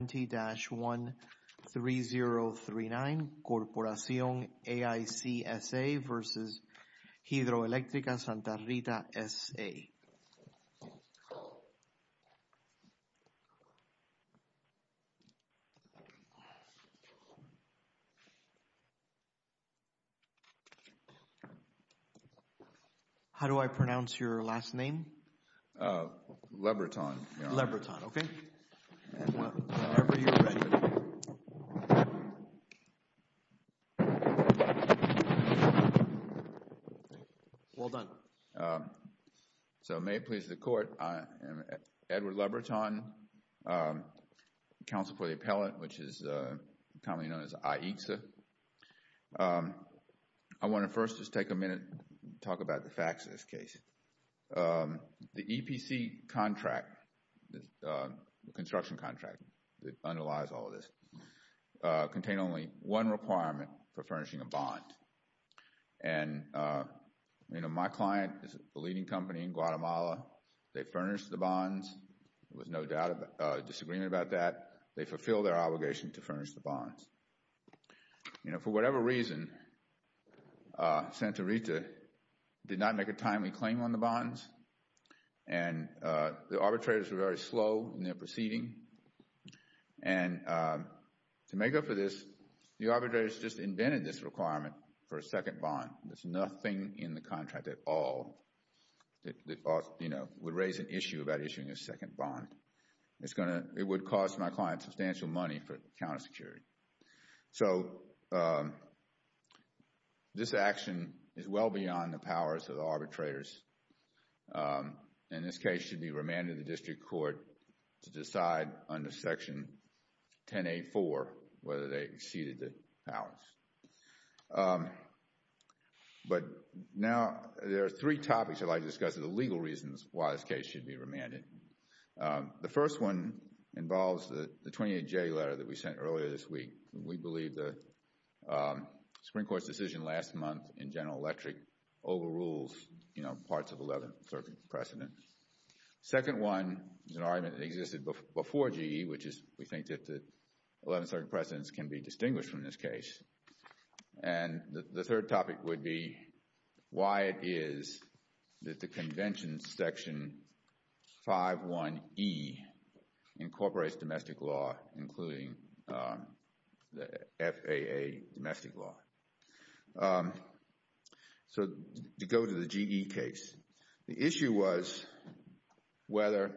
How do I pronounce your last name? I am Edward Lebreton, counsel for the appellant, which is commonly known as AICSA. I want to first just take a minute to talk about the facts of this case. The EPC contract, the construction contract that underlies all of this, contain only one requirement for furnishing a bond. And you know, my client is a leading company in Guatemala. They furnish the bonds with no doubt of disagreement about that. They fulfill their obligation to furnish the bonds. You know, for whatever reason, Santa Rita did not make a timely claim on the bonds and the arbitrators were very slow in their proceeding. And to make up for this, the arbitrators just invented this requirement for a second bond. There's nothing in the contract at all that would raise an issue about issuing a second bond. It's going to, it would cost my client substantial money for counter security. So this action is well beyond the powers of the arbitrators. And this case should be remanded to the district court to decide under section 10A4 whether they exceeded the powers. But now, there are three topics I'd like to discuss, the legal reasons why this case should be remanded. The first one involves the 28J letter that we sent earlier this week. We believe the Supreme Court's decision last month in General Electric overrules, you know, parts of the 11th Circuit precedent. Second one is an argument that existed before GE, which is we think that the 11th Circuit precedents can be distinguished from this case. And the third topic would be why it is that the Convention Section 5.1.E incorporates domestic law, including the FAA domestic law. So to go to the GE case, the issue was whether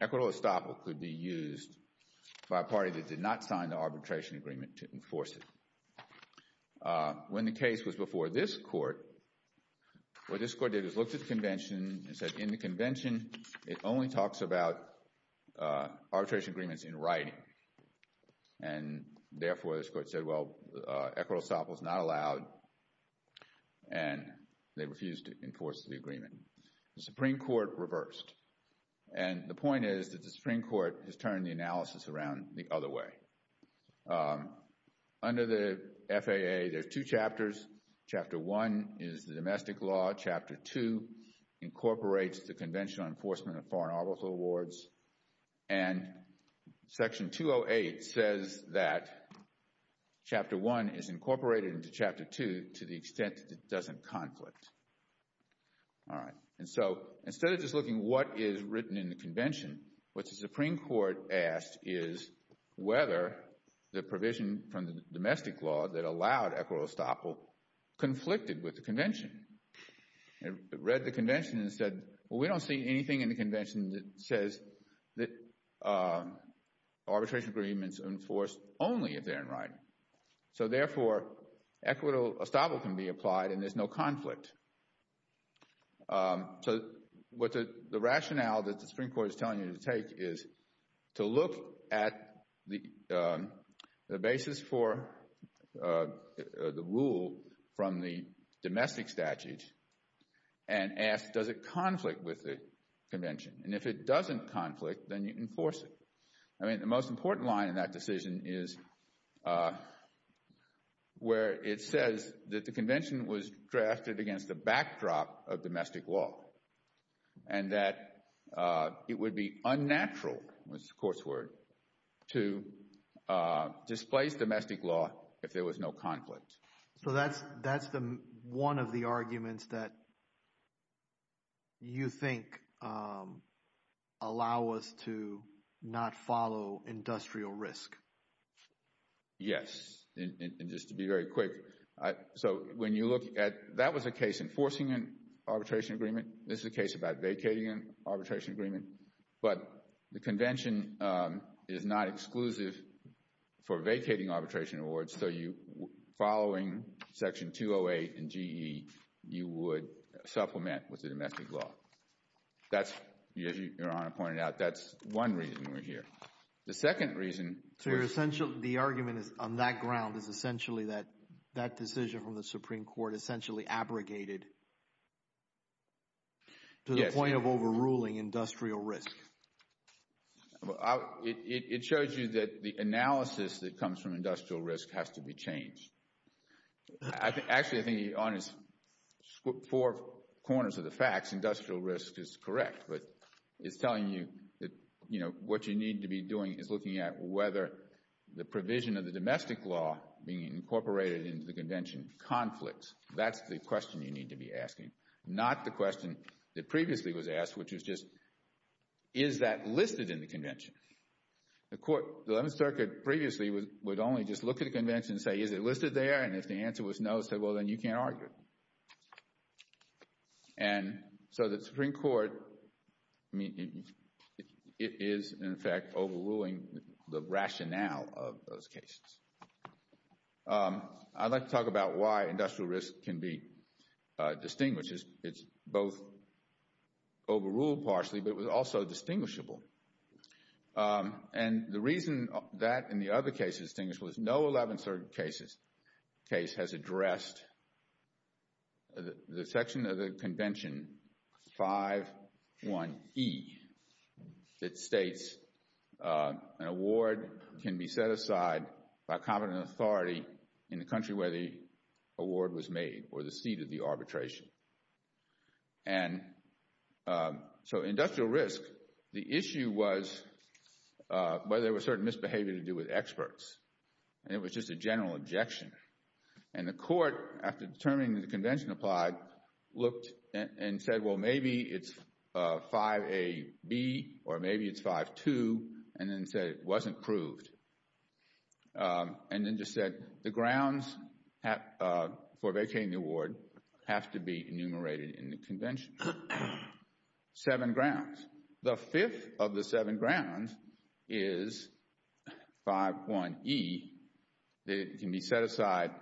equitable estoppel could be used by a party that did not sign the arbitration agreement to enforce it. When the case was before this court, what this court did was look at the convention and said in the convention, it only talks about arbitration agreements in writing. And therefore, this court said, well, equitable estoppel is not allowed, and they refused to enforce the agreement. The Supreme Court reversed. And the point is that the Supreme Court has turned the analysis around the other way. Under the FAA, there's two chapters. Chapter 1 is the domestic law. Chapter 2 incorporates the Convention on Enforcement of Foreign Arbitral Awards. And Section 208 says that Chapter 1 is incorporated into Chapter 2 to the extent that it doesn't conflict. All right. And so instead of just looking what is written in the convention, what the Supreme Court asked is whether the provision from the domestic law that allowed equitable estoppel conflicted with the convention. It read the convention and said, well, we don't see anything in the convention that says that arbitration agreements are enforced only if they're in writing. So therefore, equitable estoppel can be applied and there's no conflict. So what the rationale that the Supreme Court is telling you to take is to look at the basis for the rule from the domestic statutes and ask, does it conflict with the convention? And if it doesn't conflict, then you enforce it. I mean, the most important line in that decision is where it says that the convention was drafted against the backdrop of domestic law and that it would be unnatural, was the court's word, to displace domestic law if there was no conflict. So that's one of the arguments that you think allow us to not follow industrial risk. Yes. And just to be very quick, so when you look at that was a case enforcing an arbitration agreement. This is a case about vacating an arbitration agreement. But the convention is not exclusive for vacating arbitration awards. So following Section 208 and GE, you would supplement with the domestic law. That's, as Your Honor pointed out, that's one reason we're here. The second reason... So you're essentially, the argument on that ground is essentially that that decision from the Supreme Court essentially abrogated to the point of overruling industrial risk. Well, it shows you that the analysis that comes from industrial risk has to be changed. Actually, I think Your Honor's four corners of the facts, industrial risk is correct. But it's telling you that, you know, what you need to be doing is looking at whether the provision of the domestic law being incorporated into the convention conflicts. Not the question that previously was asked, which was just, is that listed in the convention? The court, the 11th Circuit previously would only just look at a convention and say, is it listed there? And if the answer was no, say, well, then you can't argue. And so the Supreme Court, I mean, it is in fact overruling the rationale of those cases. I'd like to talk about why industrial risk can be distinguished. It's both overruled partially, but it was also distinguishable. And the reason that and the other cases distinguishable is no 11th Circuit case has addressed the section of the convention, 5.1.e, that states an award can be set aside by competent authority in the country where the award was made or the seat of the arbitration. And so industrial risk, the issue was whether there was certain misbehavior to do with experts. And it was just a general objection. And the court, after determining that the convention applied, looked and said, well, maybe it's 5.a.b. or maybe it's 5.2, and then said it wasn't proved. And then just said the grounds for vacating the award have to be enumerated in the convention. Seven grounds. The fifth of the seven grounds is 5.1.e, that it can be set aside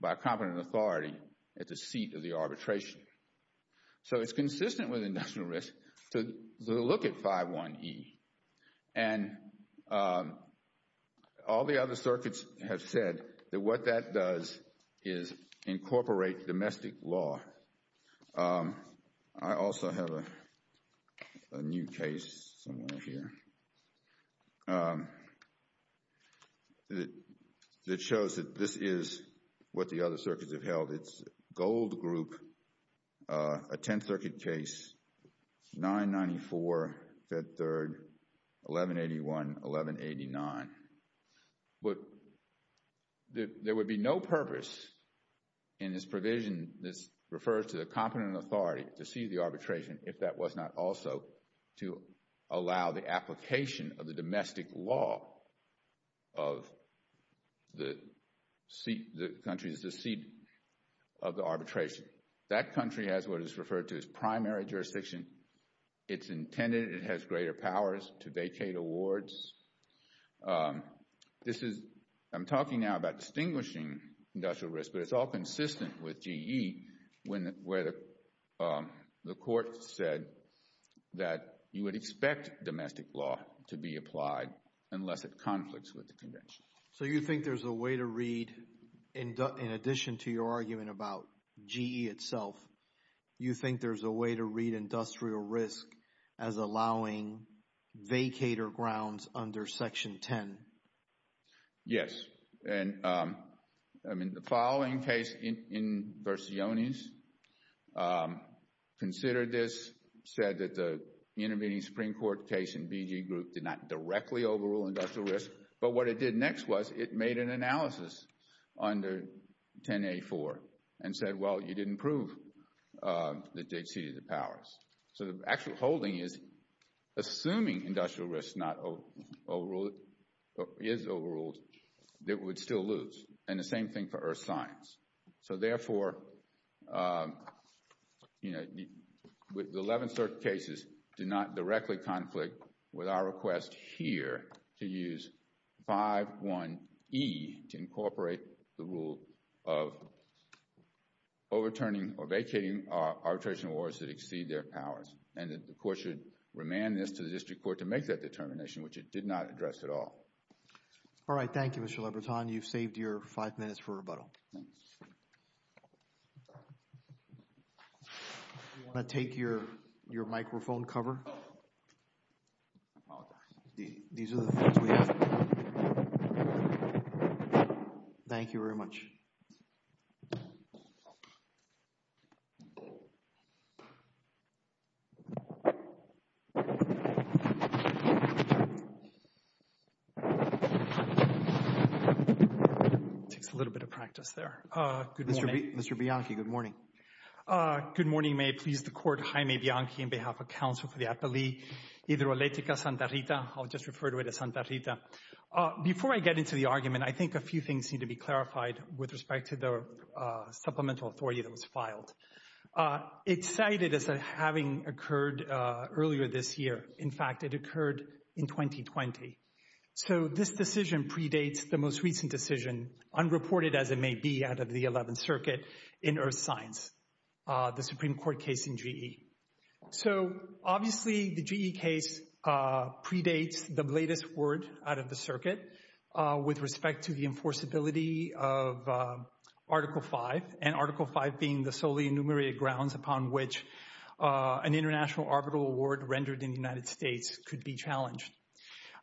by competent authority at the seat of the arbitration. So it's consistent with industrial risk to look at 5.1.e. And all the other circuits have said that what that does is incorporate domestic law. I also have a new case somewhere here that shows that this is what the other circuits have held. It's Gold Group, a Tenth Circuit case, 994, Fed Third, 1181, 1189. But there would be no purpose in this provision that refers to the competent authority to see the arbitration if that was not also to allow the application of the domestic law of the country's seat of the arbitration. That country has what is referred to as primary jurisdiction. It's intended, it has greater powers to vacate awards. This is, I'm talking now about distinguishing industrial risk, but it's all consistent with G.E. where the court said that you would expect domestic law to be applied unless it conflicts with the convention. So you think there's a way to read, in addition to your argument about G.E. itself, you think there's a way to read industrial risk as allowing vacator grounds under Section 10? Yes. And, I mean, the following case in Versiones considered this, said that the intervening Supreme Court case in B.G. Group did not directly overrule industrial risk. But what it did next was it made an analysis under 10a.4 and said, well, you didn't prove that they exceeded the powers. So the actual holding is, assuming industrial risk is overruled, it would still lose. And the same thing for earth science. So therefore, you know, the 11 certain cases do not directly conflict with our request here to use 5.1.e to incorporate the rule of overturning or vacating arbitration awards that exceed their powers. And the court should remand this to the district court to make that determination, which it did not address at all. All right. Thank you, Mr. Lebreton. You've saved your five minutes for rebuttal. Thanks. Do you want to take your microphone cover? Oh. I apologize. These are the phones we have. Thank you very much. Thank you. It takes a little bit of practice there. Good morning. Mr. Bianchi, good morning. Good morning. May it please the court. Jaime Bianchi on behalf of the Council for the Appellee. Hidroelectrica Santa Rita. I'll just refer to it as Santa Rita. Before I get into the argument, I think a few things need to be clarified with respect to the supplemental authority that was filed. It's cited as having occurred earlier this year. In fact, it occurred in 2020. So this decision predates the most recent decision, unreported as it may be out of the 11th Circuit, in Earth Science, the Supreme Court case in GE. So, obviously, the GE case predates the latest word out of the circuit with respect to the enforceability of Article V, and Article V being the solely enumerated grounds upon which an international arbitral award rendered in the United States could be challenged.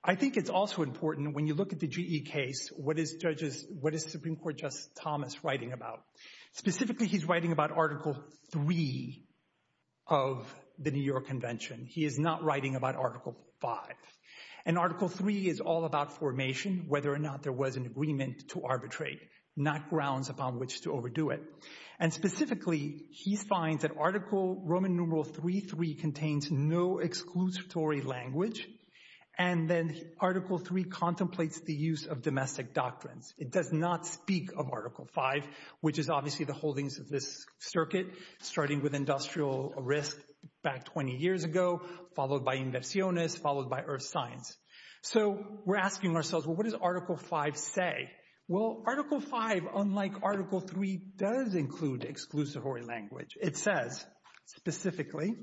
I think it's also important, when you look at the GE case, what is Supreme Court Justice Thomas writing about? Specifically, he's writing about Article III of the New York Convention. He is not writing about Article V. And Article III is all about formation, whether or not there was an agreement to arbitrate, not grounds upon which to overdo it. And specifically, he finds that Article Roman numeral III contains no exclusory language, and then Article III contemplates the use of domestic doctrines. It does not speak of Article V, which is obviously the holdings of this circuit, starting with industrial risk back 20 years ago, followed by inversiones, followed by Earth Science. So we're asking ourselves, well, what does Article V say? Well, Article V, unlike Article III, does include exclusory language. It says, specifically,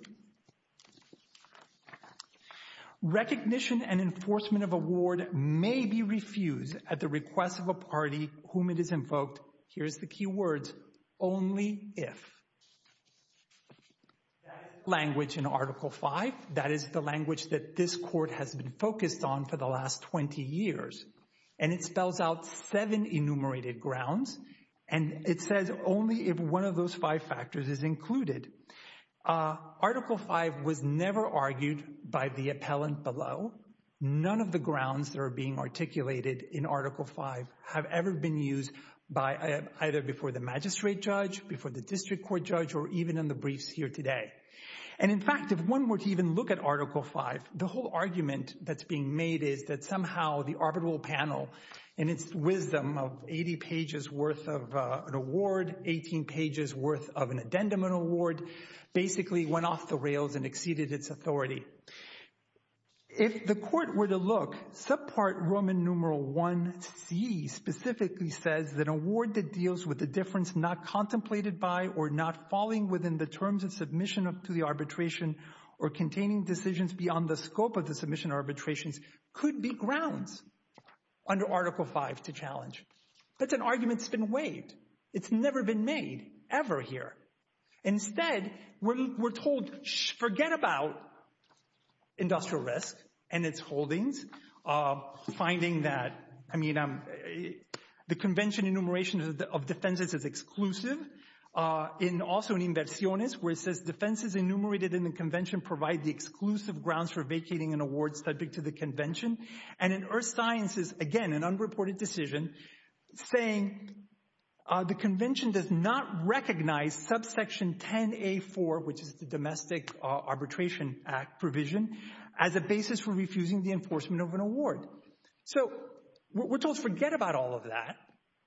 recognition and enforcement of award may be refused at the request of a party whom it is invoked, here's the key words, only if. That's language in Article V. That is the language that this Court has been focused on for the last 20 years. And it spells out seven enumerated grounds. And it says only if one of those five factors is included. Article V was never argued by the appellant below. None of the grounds that are being articulated in Article V have ever been used by either before the magistrate judge, before the district court judge, or even in the briefs here today. And in fact, if one were to even look at Article V, the whole argument that's being made is that somehow the arbitral panel, in its wisdom of 80 pages worth of an award, 18 pages worth of an addendum and award, basically went off the rails and exceeded its authority. If the Court were to look, subpart Roman numeral I.C. specifically says that an award that deals with a difference not contemplated by or not falling within the terms of submission to the arbitration or containing decisions beyond the scope of the submission arbitrations could be grounds under Article V to challenge. That's an argument that's been waived. It's never been made, ever here. Instead, we're told, forget about industrial risk and its holdings. Finding that, I mean, the convention enumeration of defenses is exclusive. Also in inversiones, where it says defenses enumerated in the convention provide the exclusive grounds for vacating an award subject to the convention. And in earth sciences, again, an unreported decision saying the convention does not recognize subsection 10A4, which is the Domestic Arbitration Act provision, as a basis for refusing the enforcement of an award. So we're told, forget about all of that.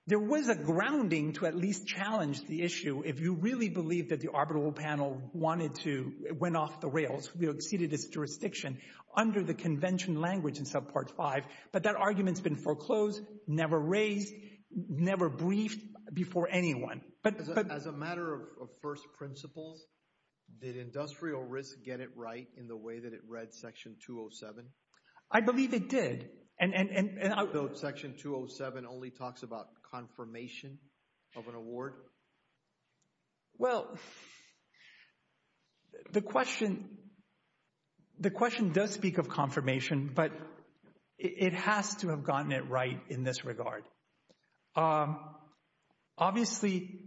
There was a grounding to at least challenge the issue if you really believe that the arbitral panel went off the rails, exceeded its jurisdiction under the convention language in Subpart V. But that argument's been foreclosed, never raised, never briefed before anyone. As a matter of first principles, did industrial risk get it right in the way that it read Section 207? I believe it did. Section 207 only talks about confirmation of an award? Well, the question does speak of confirmation, but it has to have gotten it right in this regard. Obviously,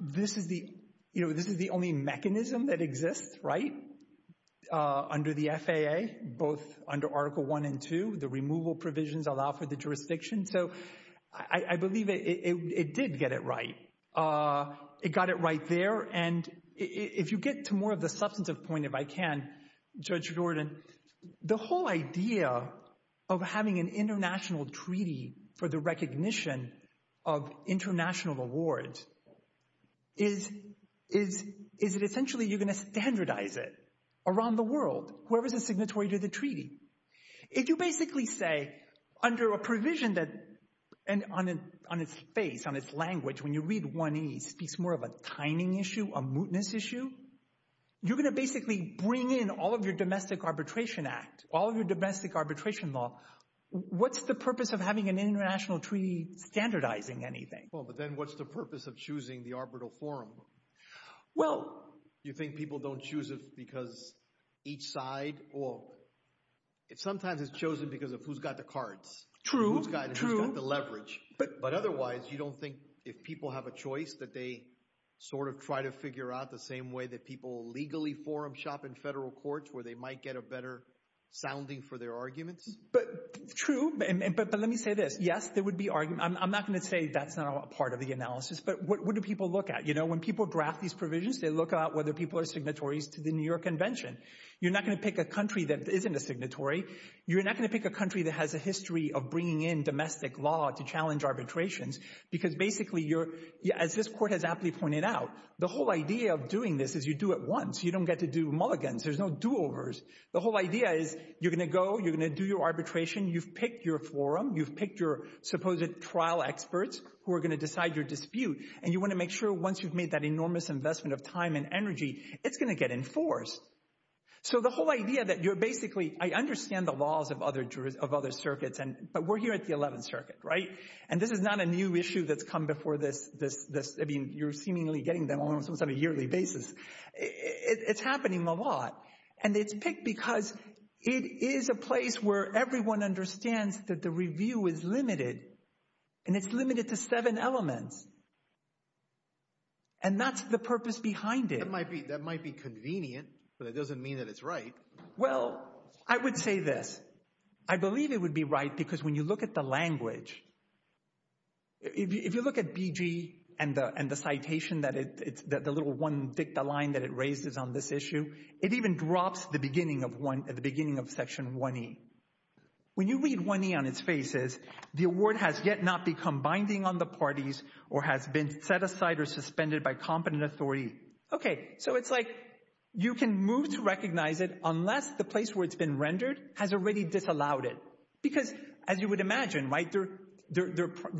this is the only mechanism that exists, right? Under the FAA, both under Article I and II, the removal provisions allow for the jurisdiction. So I believe it did get it right. It got it right there. And if you get to more of the substantive point, if I can, Judge Jordan, the whole idea of having an international treaty for the recognition of international awards is that essentially you're going to standardize it around the world, whoever's a signatory to the treaty. If you basically say, under a provision on its face, on its language, when you read IA, it speaks more of a timing issue, a mootness issue. You're going to basically bring in all of your domestic arbitration act, all of your domestic arbitration law. What's the purpose of having an international treaty standardizing anything? Well, but then what's the purpose of choosing the arbitral forum? You think people don't choose it because each side? Well, sometimes it's chosen because of who's got the cards, who's got the leverage. But otherwise, you don't think if people have a choice that they sort of try to figure out the same way that people legally forum shop in federal courts where they might get a better sounding for their arguments? True, but let me say this. Yes, there would be arguments. I'm not going to say that's not part of the analysis, but what do people look at? When people draft these provisions, they look at whether people are signatories to the New York Convention. You're not going to pick a country that isn't a signatory. You're not going to pick a country that has a history of bringing in domestic law to challenge arbitrations because basically, as this court has aptly pointed out, the whole idea of doing this is you do it once. You don't get to do mulligans. There's no do-overs. The whole idea is you're going to go, you're going to do your arbitration, you've picked your forum, you've picked your supposed trial experts who are going to decide your dispute, and you want to make sure once you've made that enormous investment of time and energy, it's going to get enforced. So the whole idea that you're basically... I understand the laws of other circuits, but we're here at the 11th Circuit, right? And this is not a new issue that's come before this. I mean, you're seemingly getting them almost on a yearly basis. It's happening a lot, and it's picked because it is a place where everyone understands that the review is limited, and it's limited to seven elements. And that's the purpose behind it. That might be convenient, but it doesn't mean that it's right. Well, I would say this. I believe it would be right because when you look at the language, if you look at BG and the citation that it... the little one dicta line that it raises on this issue, it even drops the beginning of one... the beginning of Section 1E. When you read 1E on its faces, the award has yet not become binding on the parties or has been set aside or suspended by competent authority. Okay, so it's like you can move to recognize it unless the place where it's been rendered has already disallowed it. Because as you would imagine, right,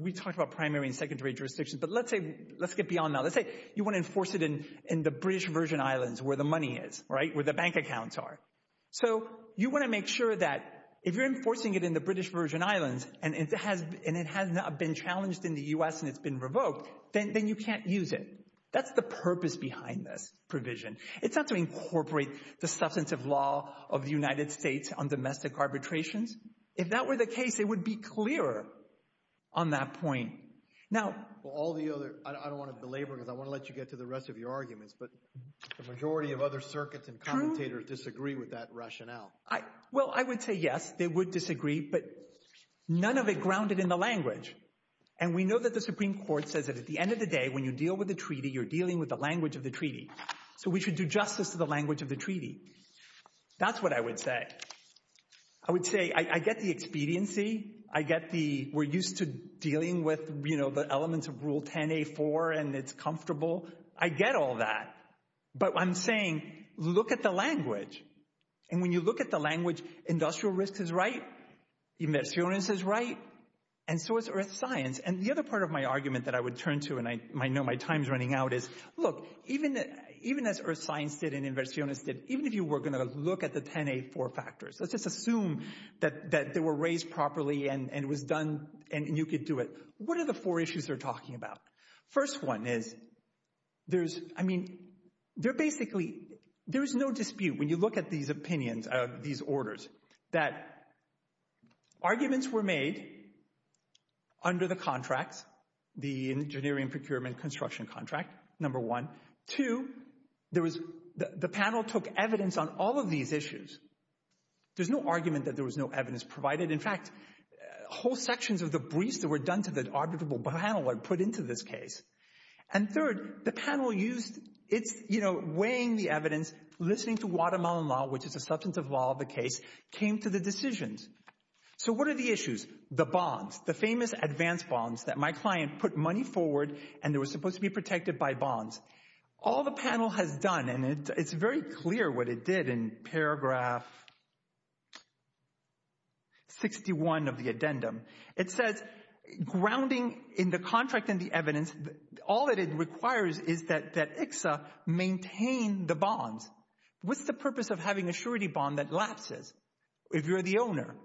we talked about primary and secondary jurisdictions, but let's say... let's get beyond that. Let's say you want to enforce it in the British Virgin Islands where the money is, right, where the bank accounts are. So you want to make sure that if you're enforcing it in the British Virgin Islands and it has not been challenged in the U.S. and it's been revoked, then you can't use it. That's the purpose behind this provision. It's not to incorporate the substantive law of the United States on domestic arbitrations. If that were the case, it would be clearer on that point. Now... Well, all the other... I don't want to belabor because I want to let you get to the rest of your arguments, but the majority of other circuits and commentators disagree with that rationale. Well, I would say, yes, they would disagree, but none of it grounded in the language. And we know that the Supreme Court says that at the end of the day, when you deal with a treaty, you're dealing with the language of the treaty. So we should do justice to the language of the treaty. That's what I would say. I would say I get the expediency. I get the... We're used to dealing with, you know, the elements of Rule 10A4, and it's comfortable. I get all that. But I'm saying, look at the language. And when you look at the language, industrial risk is right, inversiones is right, and so is earth science. And the other part of my argument that I would turn to, and I know my time's running out, is, look, even as earth science did properly and was done and you could do it, what are the four issues they're talking about? First one is, there's, I mean, they're basically, there's no dispute when you look at these opinions, these orders, that arguments were made under the contracts, the engineering procurement construction contract, number one. Two, there was, the panel took evidence on all of these issues. There's no argument that there was no evidence provided. In fact, whole sections of the briefs that were done to the arbitrable panel were put into this case. And third, the panel used its, you know, weighing the evidence, listening to Guatemalan law, which is a substantive law of the case, came to the decisions. So what are the issues? The bonds, the famous advance bonds that my client put money forward and they were supposed to be protected by bonds. All the panel has done, and it's very clear what it did in paragraph 61 of the addendum. It says, grounding in the contract and the evidence, all that it requires is that ICSA maintain the bonds. What's the purpose of having a surety bond that lapses if you're the owner?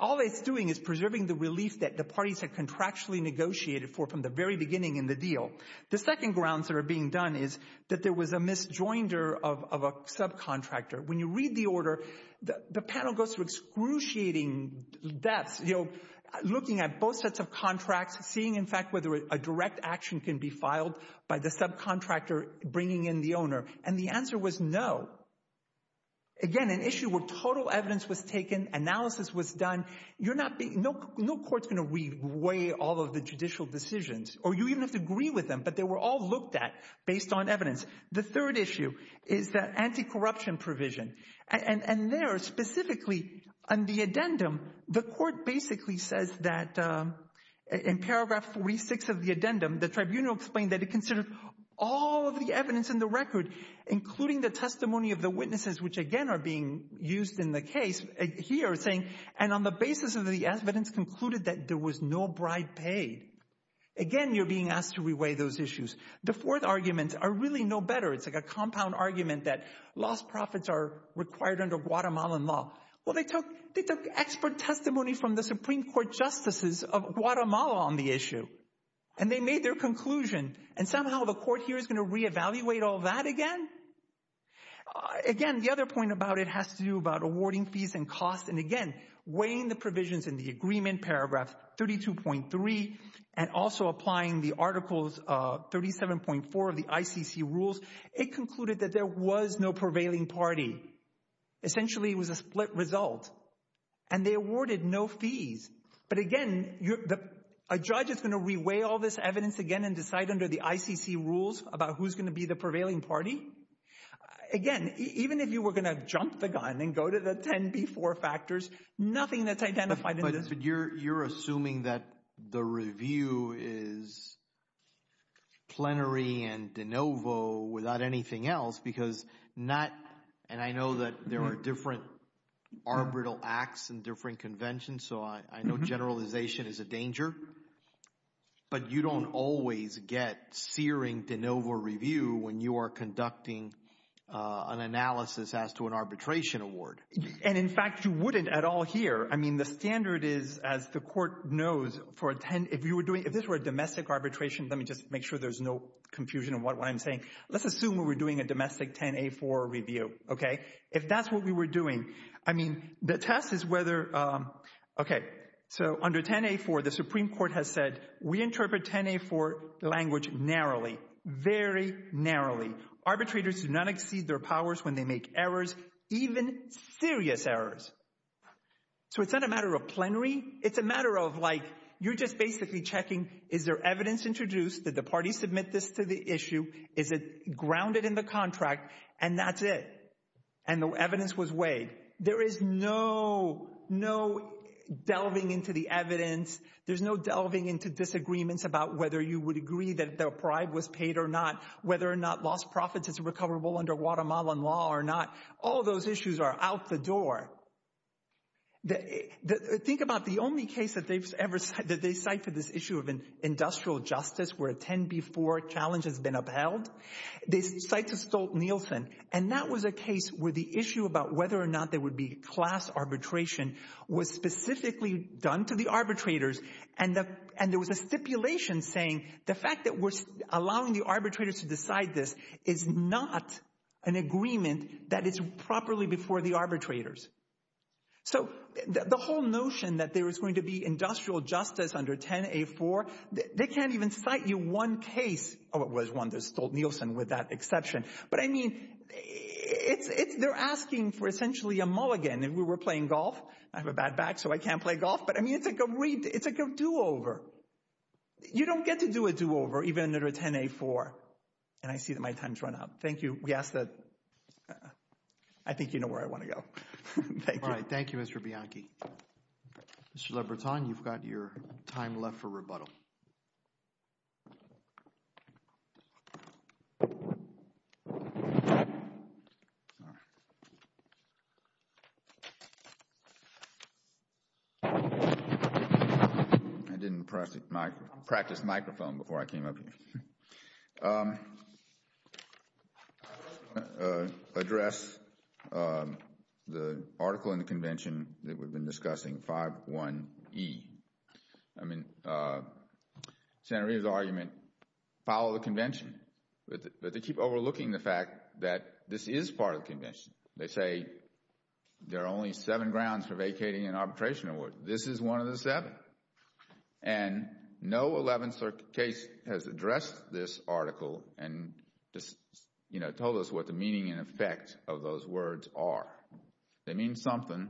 All it's doing is preserving the relief that the parties had contractually negotiated for from the very beginning in the deal. The second grounds that are being done is that there was a misjoinder of a subcontractor. When you read the order, the panel goes through excruciating depths, you know, looking at both sets of contracts, seeing, in fact, whether a direct action can be filed by the subcontractor bringing in the owner. And the answer was no. Again, an issue where total evidence was taken, analysis was done. No court's going to re-weigh all of the judicial decisions. Or you even have to agree with them, but they were all looked at based on evidence. The third issue is that anti-corruption provision. And there, specifically, on the addendum, the court basically says that in paragraph 46 of the addendum, the tribunal explained that it considered all of the evidence in the record, including the testimony of the witnesses, which again are being used in the case here, saying, and on the basis of the evidence concluded that there was no bribe paid. Again, you're being asked to re-weigh those issues. The fourth arguments are really no better. It's like a compound argument that lost profits are required under Guatemalan law. Well, they took expert testimony from the Supreme Court justices of Guatemala on the issue. And they made their conclusion. And somehow the court here is going to re-evaluate all that again? Again, the other point about it has to do about awarding fees and costs. And again, weighing the 32.3 and also applying the articles 37.4 of the ICC rules, it concluded that there was no prevailing party. Essentially, it was a split result. And they awarded no fees. But again, a judge is going to re-weigh all this evidence again and decide under the ICC rules about who's going to be the prevailing party? jump the gun and go to the 10B4 factors, nothing that's identified You're assuming that the review is plenary and de novo without anything else because and I know that there are different arbitral acts and different conventions, so I know generalization is a danger. But you don't always get searing de novo review when you are conducting an analysis as to an arbitration award. And in fact, you wouldn't at all here. I mean, the standard is, as the court knows, if this were a domestic arbitration, let me just make sure there's no confusion in what I'm saying, let's assume we're doing a domestic 10A4 review. If that's what we were doing, I mean, the test is whether okay, so under 10A4, the Supreme Court has said we interpret 10A4 language narrowly, very narrowly. Arbitrators do not exceed their powers when they make errors, even serious errors. So it's not a matter of plenary, it's a matter of like you're just basically checking, is there evidence introduced, did the party submit this to the issue, is it grounded in the contract, and that's it. And the evidence was weighed. There is no no delving into the evidence, there's no delving into disagreements about whether you would agree that the bribe was paid or not, whether or not lost profits is recoverable under Guatemalan law or not, all those issues are out the door. Think about the only case that they've ever that they cite for this issue of industrial justice where a 10B4 challenge has been upheld, they cite to Stolt-Nielsen, and that was a case where the issue about whether or not there would be class arbitration was specifically done to the arbitrators, and there was a stipulation saying the fact that we're allowing the arbitrators to decide this is not an agreement that is properly before the arbitrators. So the whole notion that there is going to be industrial justice under 10A4, they can't even cite you one case of what was one that Stolt-Nielsen with that exception, but I mean they're asking for essentially a mulligan, and we were playing golf I have a bad back so I can't play golf, but I mean it's like a do-over. You don't get to do a do-over even under 10A4, and I see that my time's run out. Thank you. I think you know where I want to go. Thank you Mr. Bianchi. Mr. LeBreton, you've got your time left for rebuttal. I didn't practice microphone before I came up here. I want to address the article in the convention that we've been discussing 5.1E. I mean Senator Reid's argument follow the convention, but they keep overlooking the fact that this is part of the convention. They say there are only seven grounds for vacating an arbitration award. This is one of the seven, and no 11th case has addressed this article and told us what the meaning and effect of those words are. They mean something.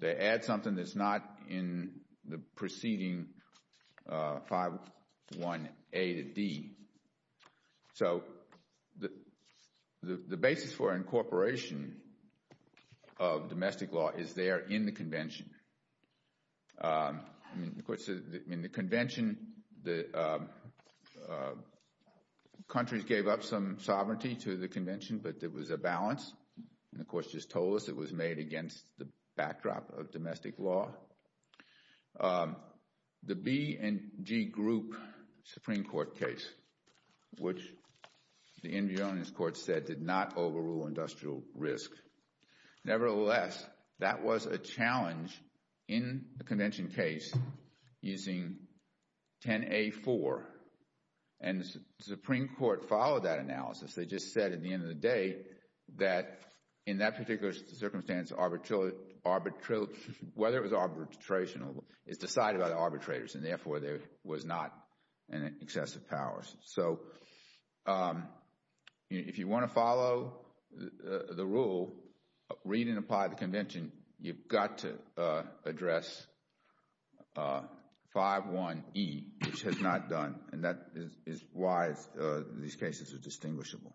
They add something that's not in the preceding 5.1A to D. So the basis for incorporation of domestic law is there in the convention. In the convention, countries gave up some sovereignty to the convention, but there was a balance and the courts just told us it was made against the backdrop of domestic law. The B and G group Supreme Court case which the Indian Court said did not overrule industrial risk. Nevertheless, that was a challenge in the convention case using 10A4 and the Supreme Court followed that analysis. They just said at the end of the day that in that particular circumstance whether it was arbitration is decided by the arbitrators and therefore there was not excessive powers. If you want to follow the rule read and apply the convention you've got to address 5.1E which has not done and that is why these cases are distinguishable.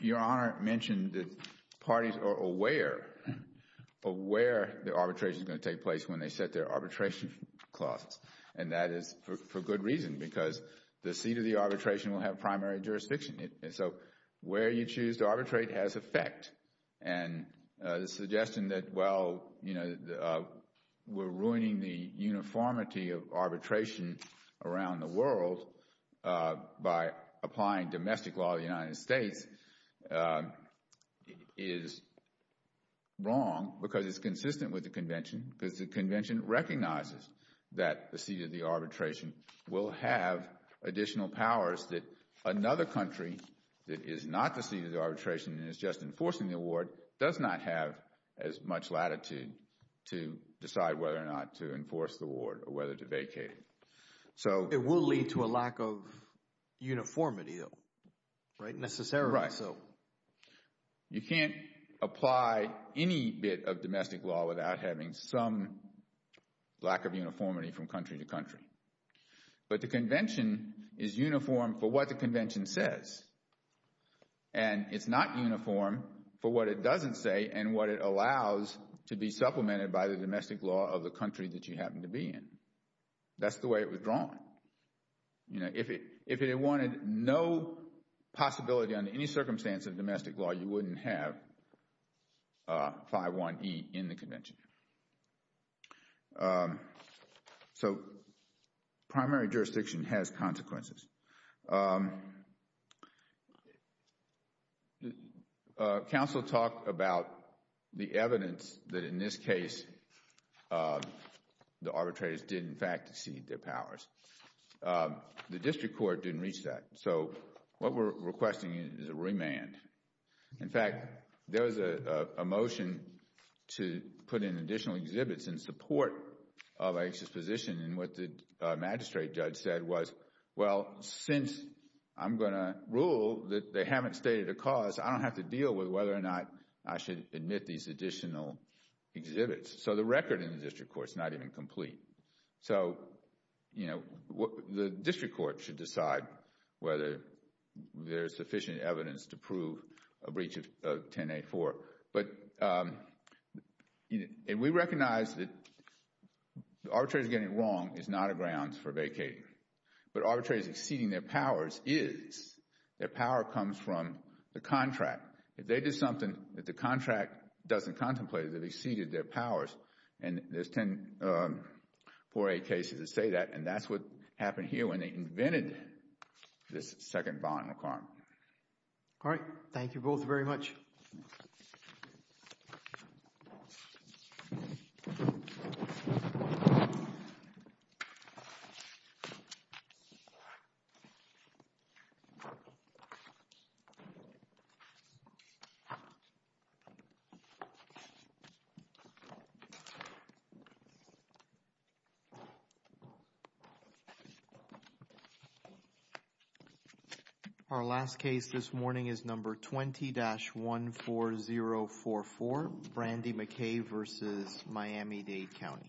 Your Honor mentioned that parties are aware of where the arbitration is going to take place when they set their arbitration costs and that is for good reason because the seat of the arbitration will have primary jurisdiction so where you choose to arbitrate has effect and the suggestion that we're ruining the uniformity of arbitration around the world by applying domestic law of the United States is wrong because it's consistent with the convention because the convention recognizes that the seat of the arbitration will have additional powers that another country that is not the seat of the arbitration and is just enforcing the award does not have as much latitude to decide whether or not to enforce the award or whether to vacate it. It will lead to a lack of uniformity though, right? Necessarily so. You can't apply any bit of domestic law without having some lack of uniformity from country to country. But the convention is uniform for what the convention says and it's not uniform for what it doesn't say and what it allows to be supplemented by the domestic law of the country that you happen to be in. That's the way it was drawn. If it wanted no possibility under any circumstance of domestic law, you wouldn't have 5-1-E in the convention. Primary jurisdiction has consequences. Council talked about the evidence that in this case the arbitrators did in fact exceed their powers. The district court didn't reach that. What we're requesting is a remand. In fact, there was a motion to put in additional exhibits in support of Ike's position and what the magistrate judge said was, well, since I'm going to rule that they haven't stated a cause, I don't have to deal with whether or not I should admit these additional exhibits. So the record in the district court is not even complete. The district court should decide whether there's sufficient evidence to prove a breach of 10-8-4. We recognize that the arbitrators getting it wrong is not a ground for vacating. But arbitrators exceeding their powers is. Their power comes from the contract. If they did something that the contract doesn't contemplate, they've exceeded their powers. There's 10-4-8 cases that say that and that's what happened here when they invented this second violent crime. All right. Thank you both very much. Our last case this morning is number 20-14044 Brandi McKay versus Miami-Dade County.